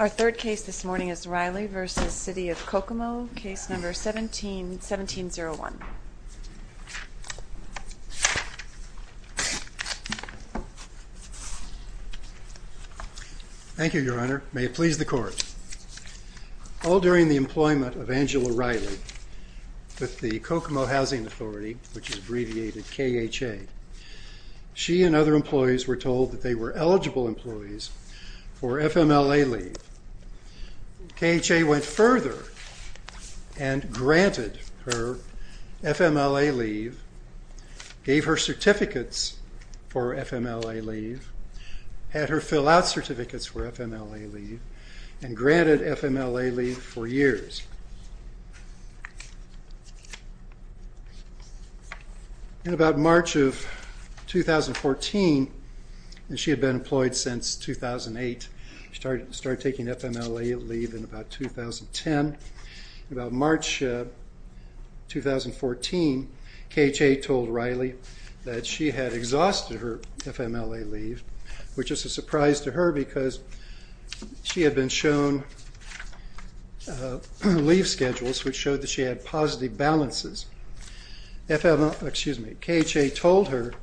Our third case this morning is Riley v. City of Kokomo, case number 17-1701. Thank you, Your Honor. May it please the Court. All during the employment of Angela Riley with the Kokomo Housing Authority, which is abbreviated KHA, she and other employees were told that they were eligible employees for FMLA leave. KHA went further and granted her FMLA leave, gave her certificates for FMLA leave, had her fill-out certificates for FMLA leave, and granted FMLA leave for years. In about March of 2014, and she had been employed since 2008, started taking FMLA leave in about 2010, in about March 2014, KHA told Riley that she had exhausted her FMLA leave, which is a surprise to her because she had been shown leave schedules which showed that she had positive balances. KHA told her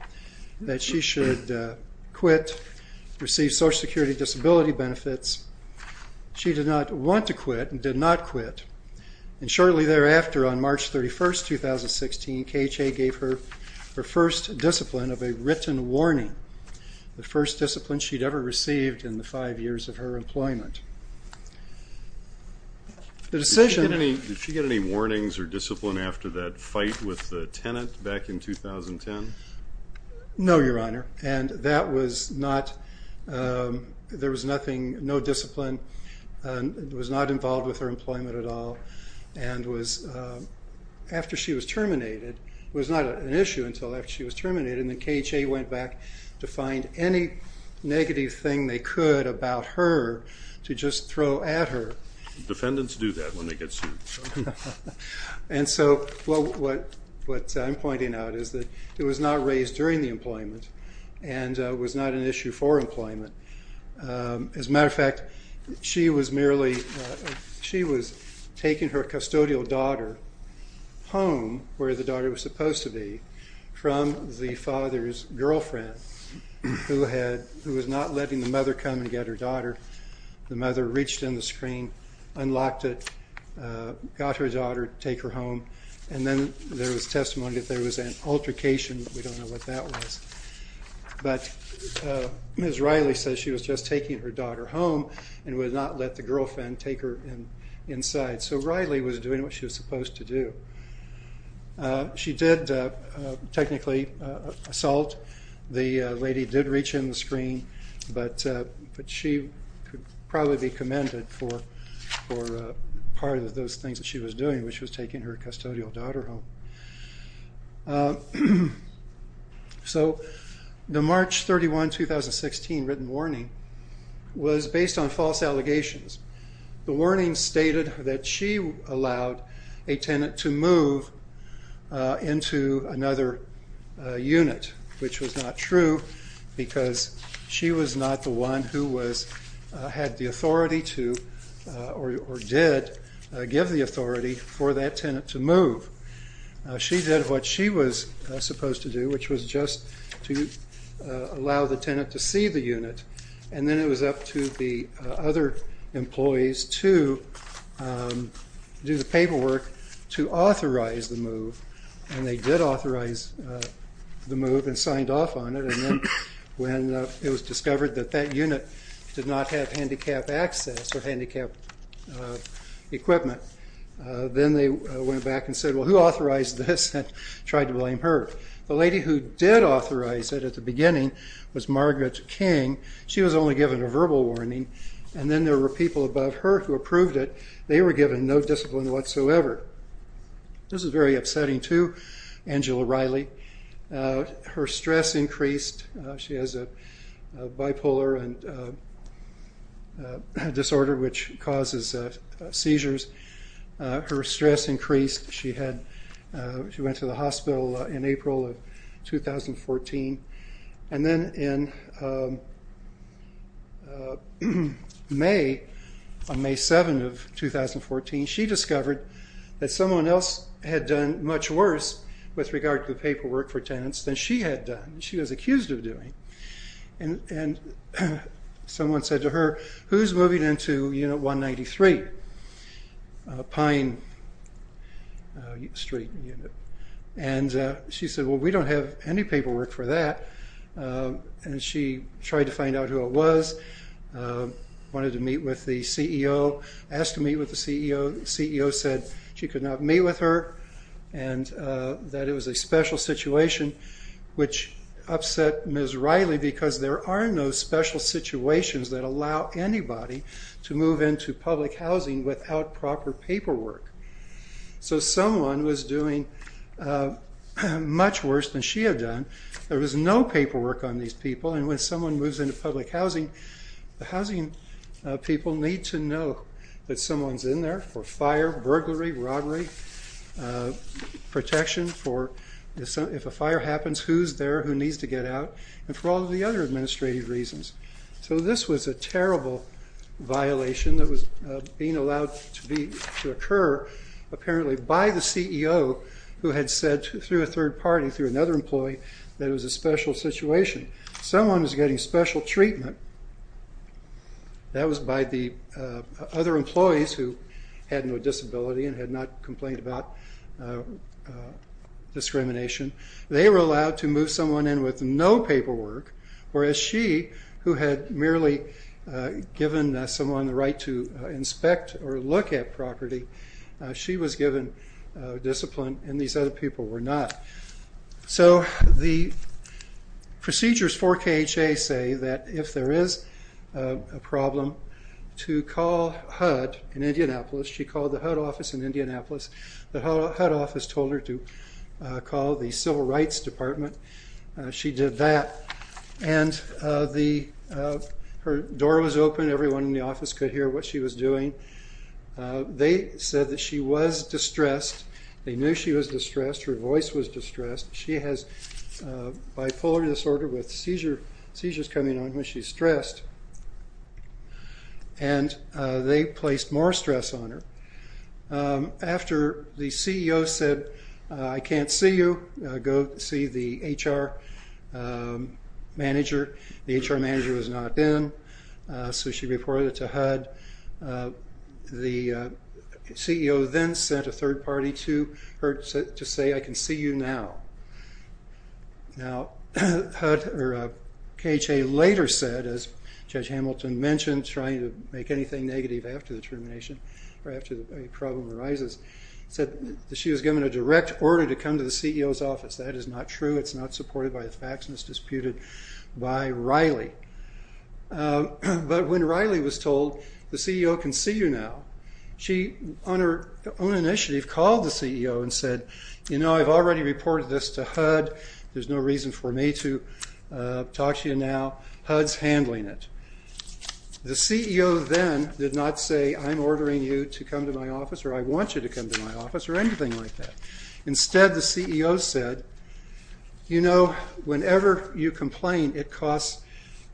that she should quit, receive Social Security disability benefits. She did not want to quit and did not quit. Shortly thereafter, on March 31, 2016, KHA gave her her first discipline of a written warning, the first discipline she had ever received in the five years of her employment. Did she get any warnings or discipline after that fight with the tenant back in 2010? No, Your Honor, and there was no discipline, was not involved with her employment at all, and after she was terminated, it was not an issue until after she was terminated, and KHA went back to find any negative thing they could about her to just throw at her. Defendants do that when they get sued. And so what I'm pointing out is that it was not raised during the employment and was not an issue for employment. As a matter of fact, she was merely, she was taking her custodial daughter home where the father's girlfriend, who was not letting the mother come and get her daughter, the mother reached in the screen, unlocked it, got her daughter, take her home, and then there was testimony that there was an altercation, but we don't know what that was. But Ms. Riley says she was just taking her daughter home and would not let the girlfriend take her inside. So Riley was doing what she was supposed to do. She did technically assault. The lady did reach in the screen, but she could probably be commended for part of those things that she was doing, which was taking her custodial daughter home. So the March 31, 2016 written warning was based on false allegations. The warning stated that she allowed a tenant to move into another unit, which was not true because she was not the one who had the authority to, or did give the authority for that tenant to move. She did what she was supposed to do, which was just to allow the tenant to see the unit, and then it was up to the other employees to do the paperwork to authorize the move. And they did authorize the move and signed off on it, and then when it was discovered that that unit did not have handicapped access or handicapped equipment, then they went back and said, well, who authorized this, and tried to blame her. The lady who did authorize it at the beginning was Margaret King. She was only given a verbal warning, and then there were people above her who approved it. They were given no discipline whatsoever. This is very upsetting too, Angela Riley. Her stress increased. She has a bipolar disorder, which causes seizures. Her stress increased. She went to the hospital in April of 2014, and then in May, on May 7 of 2014, she discovered that someone else had done much worse with regard to the paperwork for tenants than she had done, she was accused of doing. And someone said to her, who's moving into Unit 193, Pine Street Unit? And she said, well, we don't have any paperwork for that. And she tried to find out who it was, wanted to meet with the CEO, asked to meet with the CEO. The CEO said she could not meet with her, and that it was a special situation, which upset Ms. Riley, because there are no special situations that allow anybody to move into public housing without proper paperwork. So someone was doing much worse than she had done. There was no paperwork on these people, and when someone moves into public housing, the housing people need to know that someone's in there for fire, burglary, robbery, protection for if a fire happens, who's there, who needs to get out, and for all of the other administrative reasons. So this was a terrible violation that was being allowed to occur apparently by the CEO, who had said through a third party, through another employee, that it was a special situation. Someone was getting special treatment, that was by the other employees who had no disability and had not complained about discrimination. They were allowed to move someone in with no paperwork, whereas she, who had merely given someone the right to inspect or look at property, she was given discipline and these other people were not. So the procedures for KHA say that if there is a problem, to call HUD in Indianapolis. She called the HUD office in Indianapolis. The HUD office told her to call the Civil Rights Department. She did that, and her door was open, everyone in the office could hear what she was doing. They said that she was distressed, they knew she was distressed, her voice was distressed. She has bipolar disorder with seizures coming on when she's stressed, and they placed more stress on her. After the CEO said, I can't see you, go see the HR manager, the HR manager was not in, so she reported it to HUD. The CEO then sent a third party to her to say, I can see you now. Now, HUD or KHA later said, as Judge Hamilton mentioned, trying to make anything negative after the termination or after a problem arises, said that she was given a direct order to come to the CEO's office. That is not true, it's not supported by the facts, and it's disputed by Riley. But when Riley was told, the CEO can see you now, she, on her own initiative, called the CEO and said, you know, I've already reported this to HUD, there's no reason for me to talk to you now, HUD's handling it. The CEO then did not say, I'm ordering you to come to my office, or I want you to come to my office, or anything like that. Instead, the CEO said, you know, whenever you complain, it costs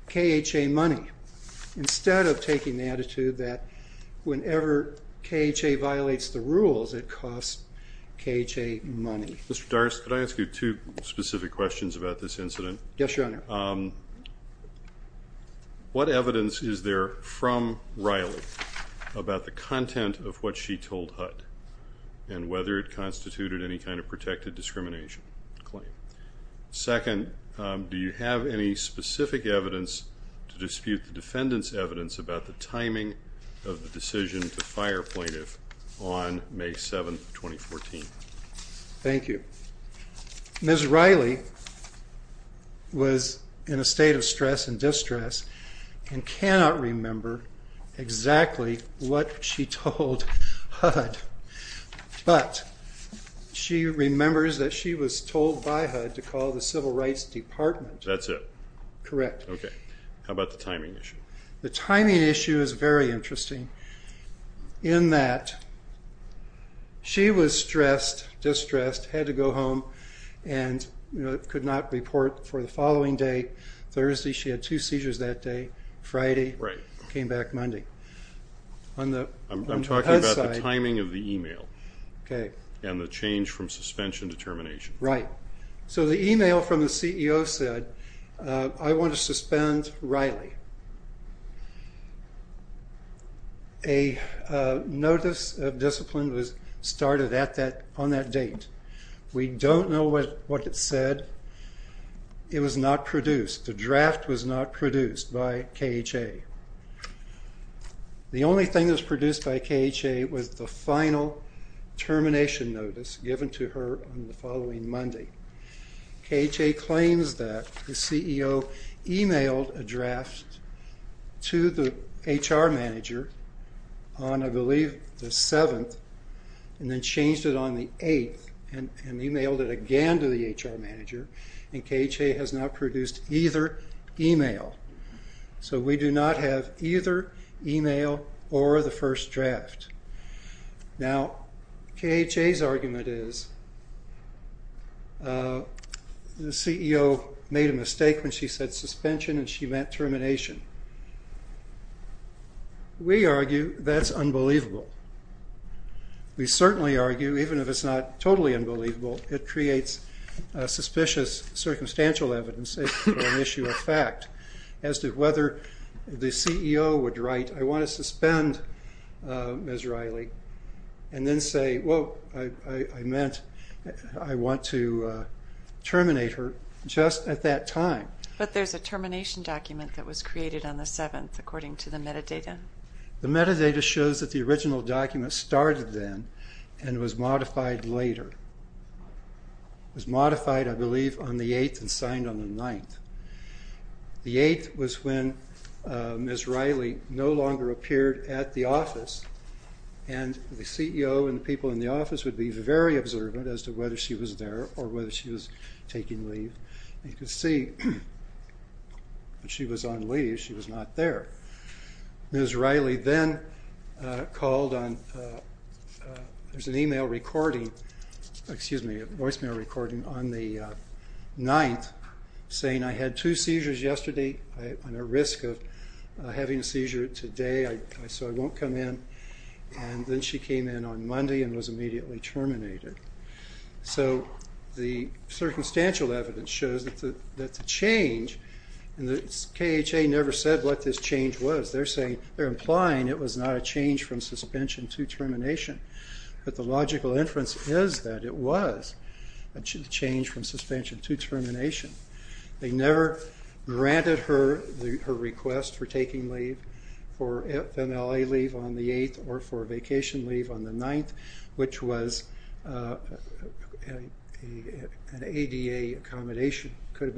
KHA money, instead of taking the attitude that whenever KHA violates the rules, it costs KHA money. Mr. Dorris, could I ask you two specific questions about this incident? Yes, your honor. One, what evidence is there from Riley about the content of what she told HUD, and whether it constituted any kind of protected discrimination claim? Second, do you have any specific evidence to dispute the defendant's evidence about the timing of the decision to fire a plaintiff on May 7, 2014? Thank you. Ms. Riley was in a state of stress and distress, and cannot remember exactly what she told HUD, but she remembers that she was told by HUD to call the Civil Rights Department. That's it? Correct. Okay. How about the timing issue? The timing issue is very interesting, in that she was stressed, distressed, had to go home, and could not report for the following day, Thursday. She had two seizures that day, Friday, came back Monday. On the HUD side... I'm talking about the timing of the email, and the change from suspension to termination. Right. So the email from the CEO said, I want to suspend Riley. A notice of discipline was started on that date. We don't know what it said. It was not produced. The draft was not produced by KHA. The only thing that was produced by KHA was the final termination notice given to her on the following Monday. KHA claims that the CEO emailed a draft to the HR manager on, I believe, the 7th, and then changed it on the 8th, and emailed it again to the HR manager, and KHA has not produced either email. So we do not have either email or the first draft. Now, KHA's argument is, the CEO made a mistake when she said suspension, and she meant termination. We argue that's unbelievable. We certainly argue, even if it's not totally unbelievable, it creates suspicious circumstantial evidence for an issue of fact, as to whether the CEO would write, I want to suspend Ms. Riley, and then say, whoa, I meant, I want to terminate her just at that time. But there's a termination document that was created on the 7th, according to the metadata. The metadata shows that the original document started then, and was modified later. It was modified, I believe, on the 8th, and signed on the 9th. The 8th was when Ms. Riley no longer appeared at the office, and the CEO and the people in the office would be very observant as to whether she was there, or whether she was taking leave. You could see that she was on leave, she was not there. Ms. Riley then called on, there's an email recording, excuse me, a voicemail recording on the 9th, saying, I had two seizures yesterday, I'm at risk of having a seizure today, so I won't come in. And then she came in on Monday, and was immediately terminated. So the circumstantial evidence shows that the change, and the KHA never said what this change was. They're saying, they're implying it was not a change from suspension to termination. But the logical inference is that it was a change from suspension to termination. They never granted her request for taking leave, for FMLA leave on the 8th, or for vacation leave on the 9th, which was an ADA accommodation, should have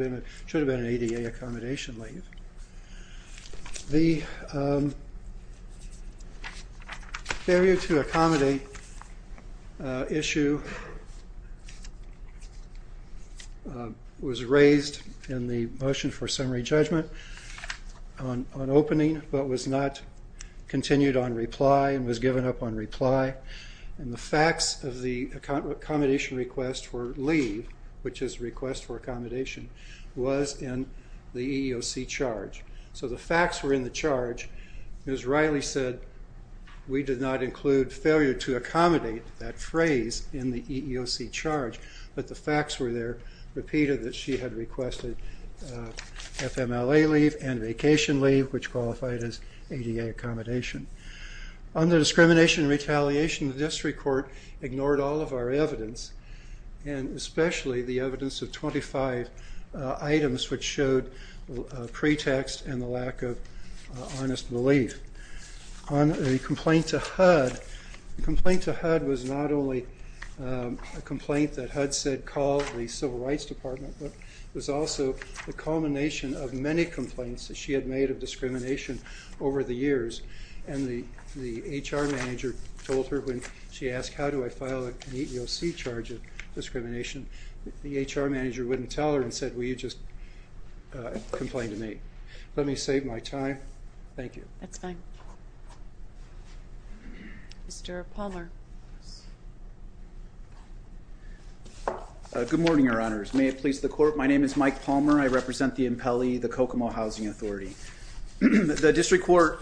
been an ADA accommodation leave. The failure to accommodate issue was raised in the motion for summary judgment on opening, but was not continued on reply, and was given up on reply. And the facts of the accommodation request for leave, which is request for accommodation, was in the EEOC charge. So the facts were in the charge. Ms. Riley said, we did not include failure to accommodate, that phrase, in the EEOC charge, but the facts were there, repeated that she had requested FMLA leave and vacation leave, which qualified as ADA accommodation. Under discrimination and retaliation, the district court ignored all of our evidence, and especially the evidence of 25 items, which showed pretext and the lack of honest belief. On the complaint to HUD, the complaint to HUD was not only a complaint that HUD said called the Civil Rights Department, but it was also the culmination of many complaints that she had made of discrimination over the years, and the HR manager told her when she received the EEOC charge of discrimination, the HR manager wouldn't tell her and said, well, you just complained to me. Let me save my time. Thank you. That's fine. Mr. Palmer. Good morning, Your Honors. May it please the Court, my name is Mike Palmer, I represent the Impelli, the Kokomo Housing Authority. The district court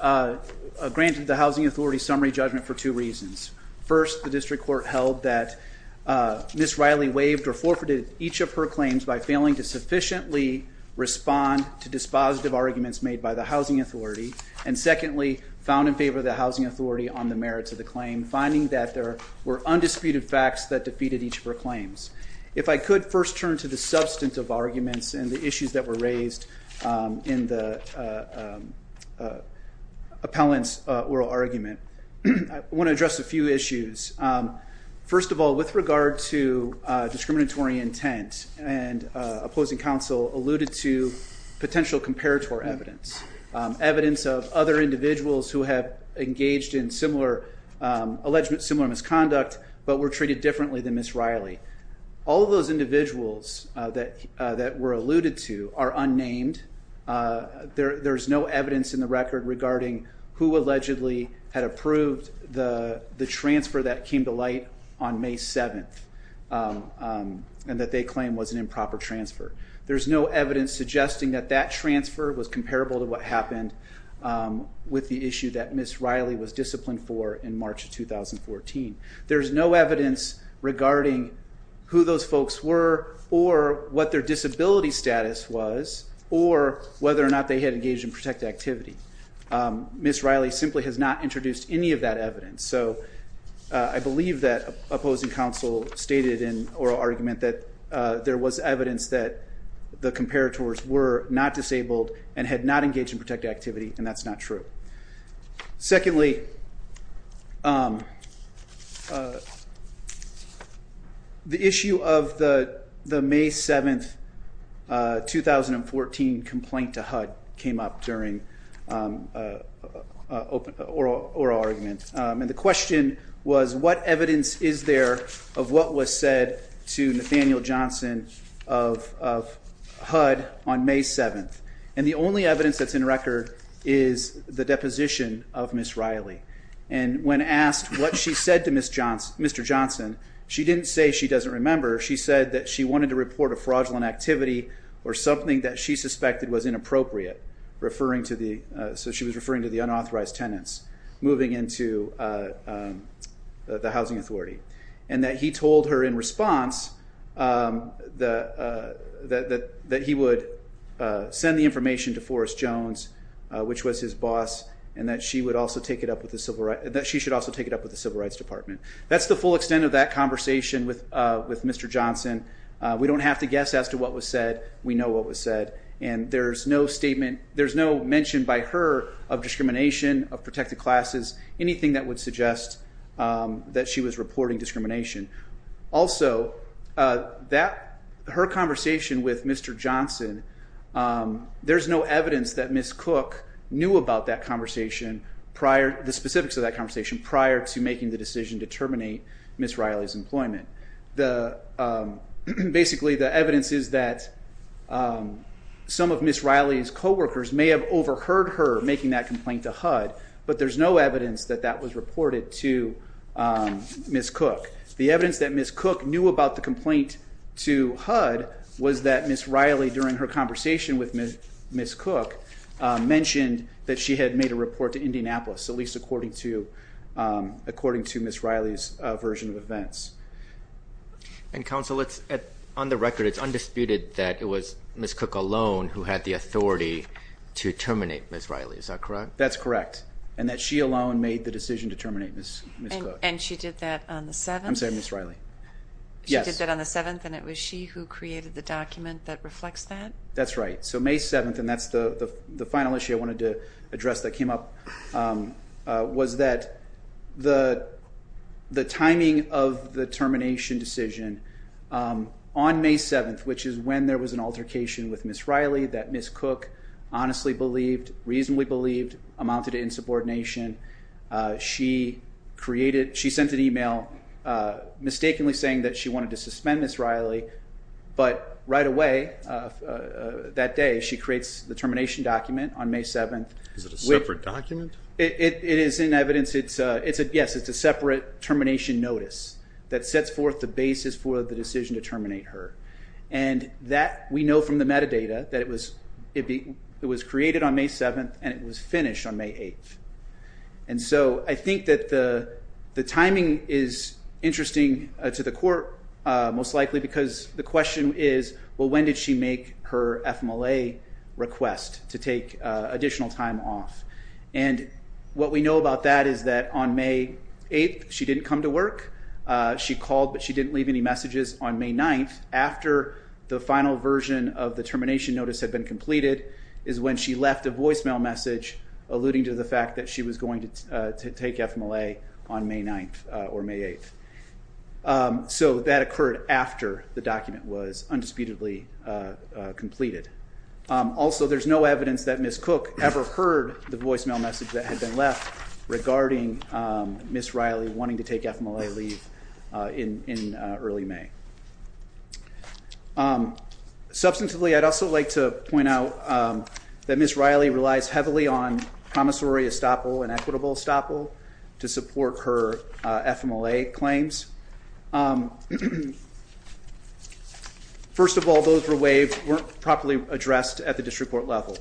granted the Housing Authority summary judgment for two reasons. First, the district court held that Ms. Riley waived or forfeited each of her claims by failing to sufficiently respond to dispositive arguments made by the Housing Authority, and secondly, found in favor of the Housing Authority on the merits of the claim, finding that there were undisputed facts that defeated each of her claims. If I could first turn to the substance of arguments and the issues that were raised in the appellant's oral argument, I want to address a few issues. First of all, with regard to discriminatory intent, and opposing counsel alluded to potential comparator evidence, evidence of other individuals who have engaged in similar, alleged similar misconduct, but were treated differently than Ms. Riley. All of those individuals that were alluded to are unnamed. There's no evidence in the record regarding who allegedly had approved the transfer that came to light on May 7th, and that they claim was an improper transfer. There's no evidence suggesting that that transfer was comparable to what happened with the issue that Ms. Riley was disciplined for in March of 2014. There's no evidence regarding who those folks were, or what their disability status was, or whether or not they had engaged in protected activity. Ms. Riley simply has not introduced any of that evidence, so I believe that opposing counsel stated in oral argument that there was evidence that the comparators were not disabled and had not engaged in protected activity, and that's not true. Secondly, the issue of the May 7th, 2014 complaint to HUD came up during an oral argument, and the question was what evidence is there of what was said to Nathaniel Johnson of HUD on May 7th? And the only evidence that's in record is the deposition of Ms. Riley. And when asked what she said to Mr. Johnson, she didn't say she doesn't remember. She said that she wanted to report a fraudulent activity or something that she suspected was inappropriate, referring to the, so she was referring to the unauthorized tenants moving into the housing authority, and that he told her in response that he would send the information to Forrest Jones, which was his boss, and that she should also take it up with the Civil Rights Department. That's the full extent of that conversation with Mr. Johnson. We don't have to guess as to what was said. We know what was said, and there's no statement, there's no mention by her of discrimination, of protected classes, anything that would suggest that she was reporting discrimination. Also, that, her conversation with Mr. Johnson, there's no evidence that Ms. Cook knew about that conversation prior, the specifics of that conversation prior to making the decision to terminate Ms. Riley's employment. Basically the evidence is that some of Ms. Riley's co-workers may have overheard her making that complaint to HUD, but there's no evidence that that was reported to Ms. Cook. The evidence that Ms. Cook knew about the complaint to HUD was that Ms. Riley, during her conversation with Ms. Cook, mentioned that she had made a report to Indianapolis, at least according to Ms. Riley's version of events. And Counsel, on the record, it's undisputed that it was Ms. Cook alone who had the authority to terminate Ms. Riley, is that correct? That's correct. And that she alone made the decision to terminate Ms. Cook. And she did that on the 7th? I'm sorry, Ms. Riley. Yes. She did that on the 7th, and it was she who created the document that reflects that? That's right. So May 7th, and that's the final issue I wanted to address that came up, was that the timing of the termination decision on May 7th, which is when there was an altercation with Ms. Cook, honestly believed, reasonably believed, amounted to insubordination. She created, she sent an email mistakenly saying that she wanted to suspend Ms. Riley, but right away, that day, she creates the termination document on May 7th. Is it a separate document? It is in evidence, it's a, yes, it's a separate termination notice that sets forth the basis for the decision to terminate her. And that, we know from the metadata, that it was created on May 7th, and it was finished on May 8th. And so I think that the timing is interesting to the court, most likely, because the question is, well, when did she make her FMLA request to take additional time off? And what we know about that is that on May 8th, she didn't come to work. She called, but she didn't leave any messages. On May 9th, after the final version of the termination notice had been completed, is when she left a voicemail message alluding to the fact that she was going to take FMLA on May 9th or May 8th. So that occurred after the document was undisputedly completed. Also, there's no evidence that Ms. Cook ever heard the voicemail message that had been left regarding Ms. Riley wanting to take FMLA leave in early May. Substantively, I'd also like to point out that Ms. Riley relies heavily on promissory estoppel and equitable estoppel to support her FMLA claims. First of all, those were waived, weren't properly addressed at the district court level.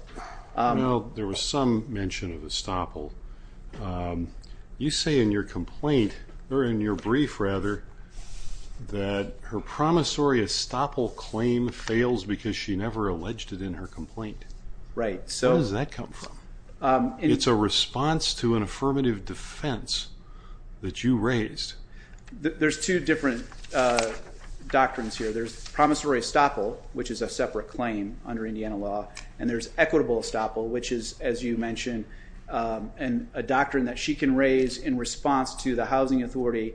Well, there was some mention of estoppel. You say in your complaint, or in your brief rather, that her promissory estoppel claim fails because she never alleged it in her complaint. Right. Where does that come from? It's a response to an affirmative defense that you raised. There's two different doctrines here. There's promissory estoppel, which is a separate claim under Indiana law. And there's equitable estoppel, which is, as you mentioned, a doctrine that she can raise in response to the housing authority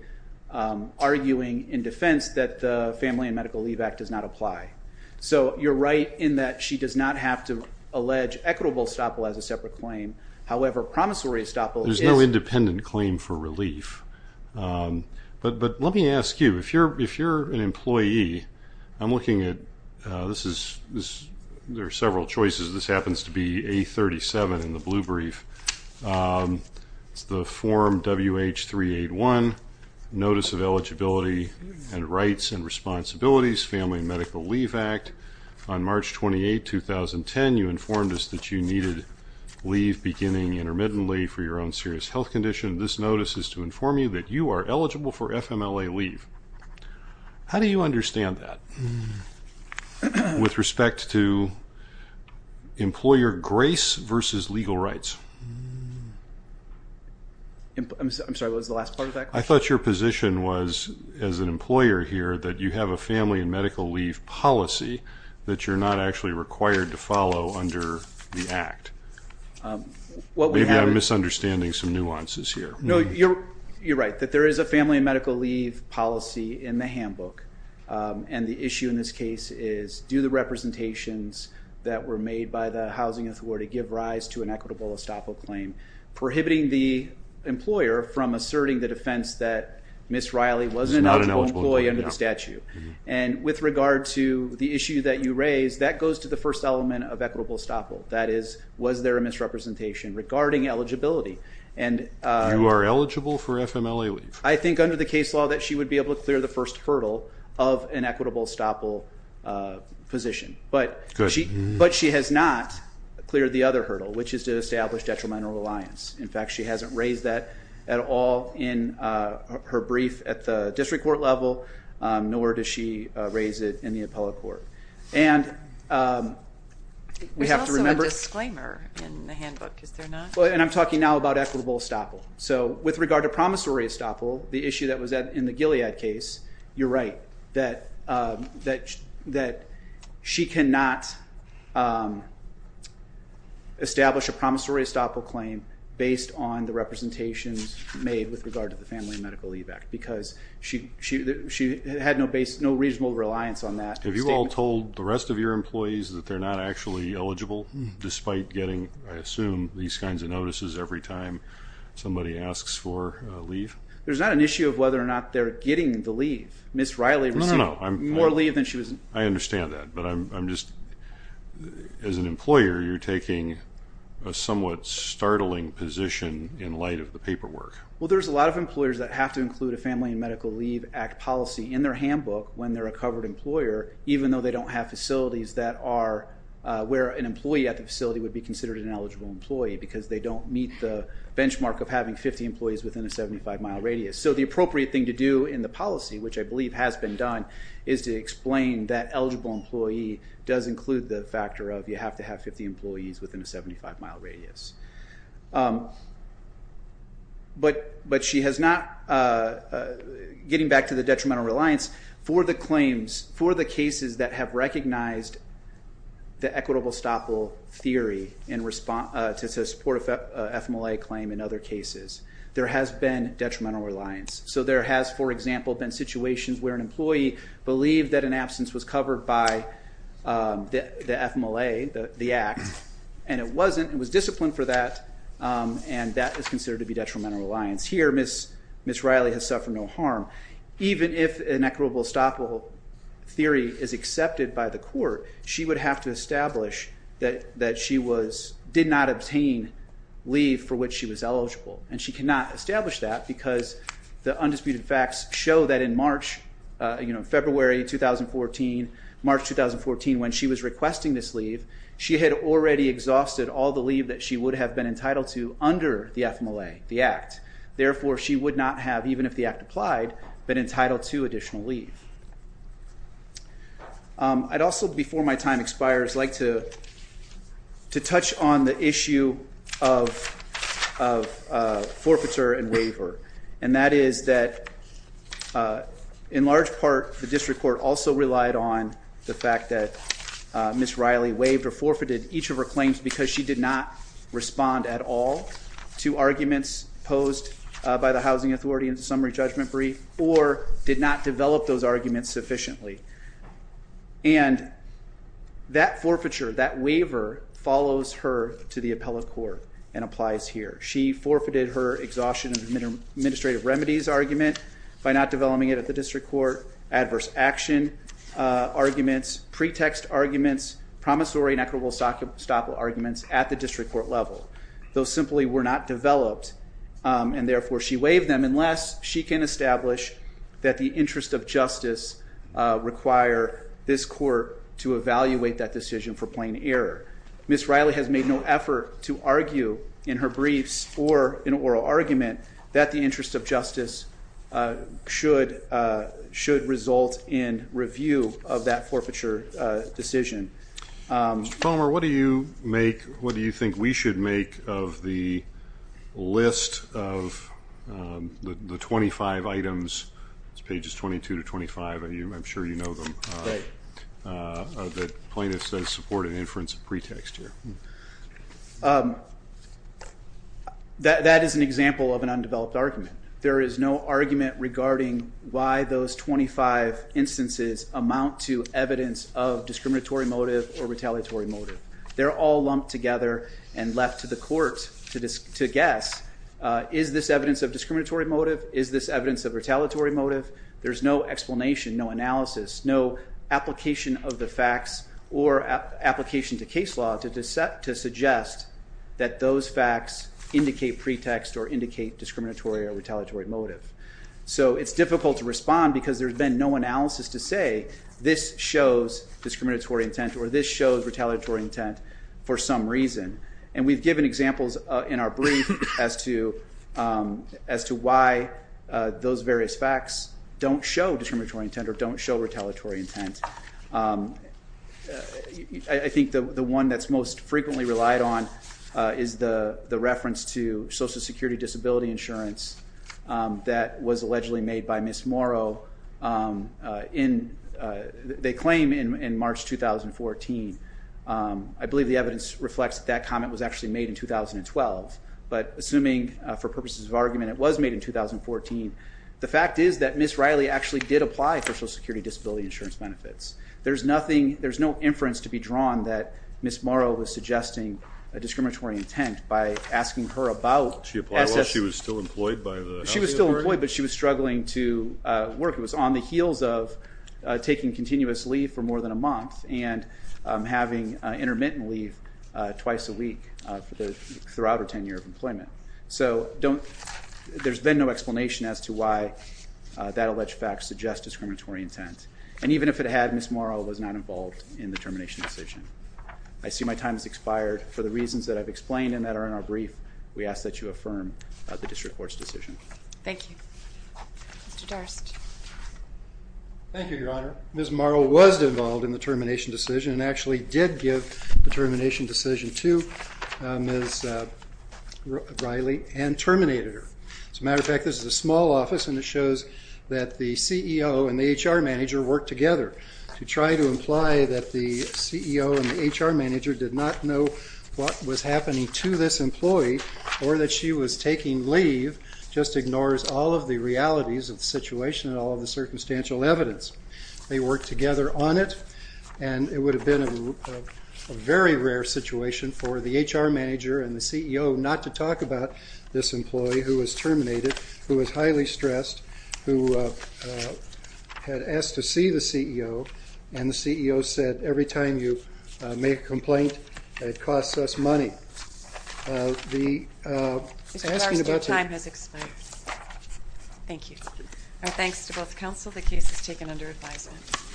arguing in defense that the Family and Medical Leave Act does not apply. So you're right in that she does not have to allege equitable estoppel as a separate claim. However, promissory estoppel is- There's no independent claim for relief. But let me ask you, if you're an employee, I'm looking at, this is, there are several choices. This happens to be A37 in the blue brief. It's the form WH381, Notice of Eligibility and Rights and Responsibilities, Family and Medical Leave Act. On March 28, 2010, you informed us that you needed leave beginning intermittently for your own serious health condition. This notice is to inform you that you are eligible for FMLA leave. How do you understand that? With respect to employer grace versus legal rights. I'm sorry, what was the last part of that question? I thought your position was, as an employer here, that you have a family and medical leave policy that you're not actually required to follow under the act. Maybe I'm misunderstanding some nuances here. No, you're right, that there is a family and medical leave policy in the handbook. And the issue in this case is, do the representations that were made by the Housing Authority give rise to an equitable estoppel claim, prohibiting the employer from asserting the defense that Ms. Riley was not an eligible employee under the statute. And with regard to the issue that you raised, that goes to the first element of equitable estoppel. That is, was there a misrepresentation regarding eligibility? And you are eligible for FMLA leave? I think under the case law that she would be able to clear the first hurdle of an equitable estoppel position, but she has not cleared the other hurdle, which is to establish detrimental reliance. In fact, she hasn't raised that at all in her brief at the district court level, nor does she raise it in the appellate court. And we have to remember... There's also a disclaimer in the handbook, is there not? And I'm talking now about equitable estoppel. So with regard to promissory estoppel, the issue that was in the Gilead case, you're right that she cannot establish a promissory estoppel claim based on the representations made with regard to the Family and Medical Leave Act, because she had no reasonable reliance on that. Have you all told the rest of your employees that they're not actually eligible, despite getting, I assume, these kinds of notices every time somebody asks for leave? There's not an issue of whether or not they're getting the leave. Ms. Riley received more leave than she was... I understand that, but I'm just... As an employer, you're taking a somewhat startling position in light of the paperwork. Well, there's a lot of employers that have to include a Family and Medical Leave Act policy in their handbook when they're a covered employer, even though they don't have facilities that are where an employee at the facility would be considered an eligible employee, because they don't meet the benchmark of having 50 employees within a 75-mile radius. So the appropriate thing to do in the policy, which I believe has been done, is to explain that eligible employee does include the factor of you have to have 50 employees within a 75-mile radius. But she has not... Getting back to the detrimental reliance, for the claims, for the cases that have recognized the equitable estoppel theory to support an FMLA claim in other cases, there has been detrimental reliance. So there has, for example, been situations where an employee believed that an absence was covered by the FMLA, the Act, and it wasn't, it was disciplined for that, and that is considered to be detrimental reliance. Here, Ms. Riley has suffered no harm, even if an equitable estoppel theory is accepted by the court, she would have to establish that she did not obtain leave for which she was eligible. And she cannot establish that, because the undisputed facts show that in March, February 2014, March 2014, when she was requesting this leave, she had already exhausted all the leave that she would have been entitled to under the FMLA, the Act. Therefore, she would not have, even if the Act applied, been entitled to additional leave. I'd also, before my time expires, like to touch on the issue of forfeiture and waiver. And that is that, in large part, the district court also relied on the fact that Ms. Riley waived or forfeited each of her claims because she did not respond at all to arguments posed by the housing authority in the summary judgment brief, or did not develop those arguments sufficiently. And that forfeiture, that waiver, follows her to the appellate court and applies here. She forfeited her exhaustion of administrative remedies argument by not developing it at the district court, adverse action arguments, pretext arguments, promissory and equitable estoppel arguments at the district court level. Those simply were not developed, and therefore she waived them, unless she can establish that the interest of justice require this court to evaluate that decision for plain error. Ms. Riley has made no effort to argue in her briefs or in oral argument that the interest of justice should result in review of that forfeiture decision. Mr. Palmer, what do you make, what do you think we should make of the list of the 25 items, pages 22 to 25, I'm sure you know them, that plaintiffs say support an inference of pretext here? That is an example of an undeveloped argument. There is no argument regarding why those 25 instances amount to evidence of discriminatory motive or retaliatory motive. They're all lumped together and left to the court to guess, is this evidence of discriminatory motive? Is this evidence of retaliatory motive? There's no explanation, no analysis, no application of the facts or application to case law to suggest that those facts indicate pretext or indicate discriminatory or retaliatory motive. So it's difficult to respond because there's been no analysis to say this shows discriminatory intent or this shows retaliatory intent for some reason. And we've given examples in our brief as to why those various facts don't show discriminatory intent or don't show retaliatory intent. I think the one that's most frequently relied on is the reference to Social Security Disability Insurance that was allegedly made by Ms. Morrow. They claim in March 2014, I believe the evidence reflects that that comment was actually made in 2012. But assuming for purposes of argument it was made in 2014, the fact is that Ms. Riley actually did apply for Social Security Disability Insurance benefits. There's no inference to be drawn that Ms. Morrow was suggesting a discriminatory intent by asking her about... She applied while she was still employed by the health authority? She was still employed but she was struggling to work. It was on the heels of taking continuous leave for more than a month and having intermittent leave twice a week throughout her tenure of employment. So there's been no explanation as to why that alleged fact suggests discriminatory intent. And even if it had, Ms. Morrow was not involved in the termination decision. I see my time has expired. For the reasons that I've explained and that are in our brief, we ask that you affirm the District Court's decision. Thank you. Mr. Durst. Thank you, Your Honor. Ms. Morrow was involved in the termination decision and actually did give the termination decision to Ms. Riley and terminated her. As a matter of fact, this is a small office and it shows that the CEO and the HR manager worked together to try to imply that the CEO and the HR manager did not know what was happening to this employee or that she was taking leave just ignores all of the realities of the situation and all of the circumstantial evidence. They worked together on it and it would have been a very rare situation for the HR manager and the CEO not to talk about this employee who was terminated, who was highly stressed, who had asked to see the CEO and the CEO said, every time you make a complaint, it costs us money. Mr. Durst, your time has expired. Thank you. Our thanks to both counsel. The case is taken under advisement.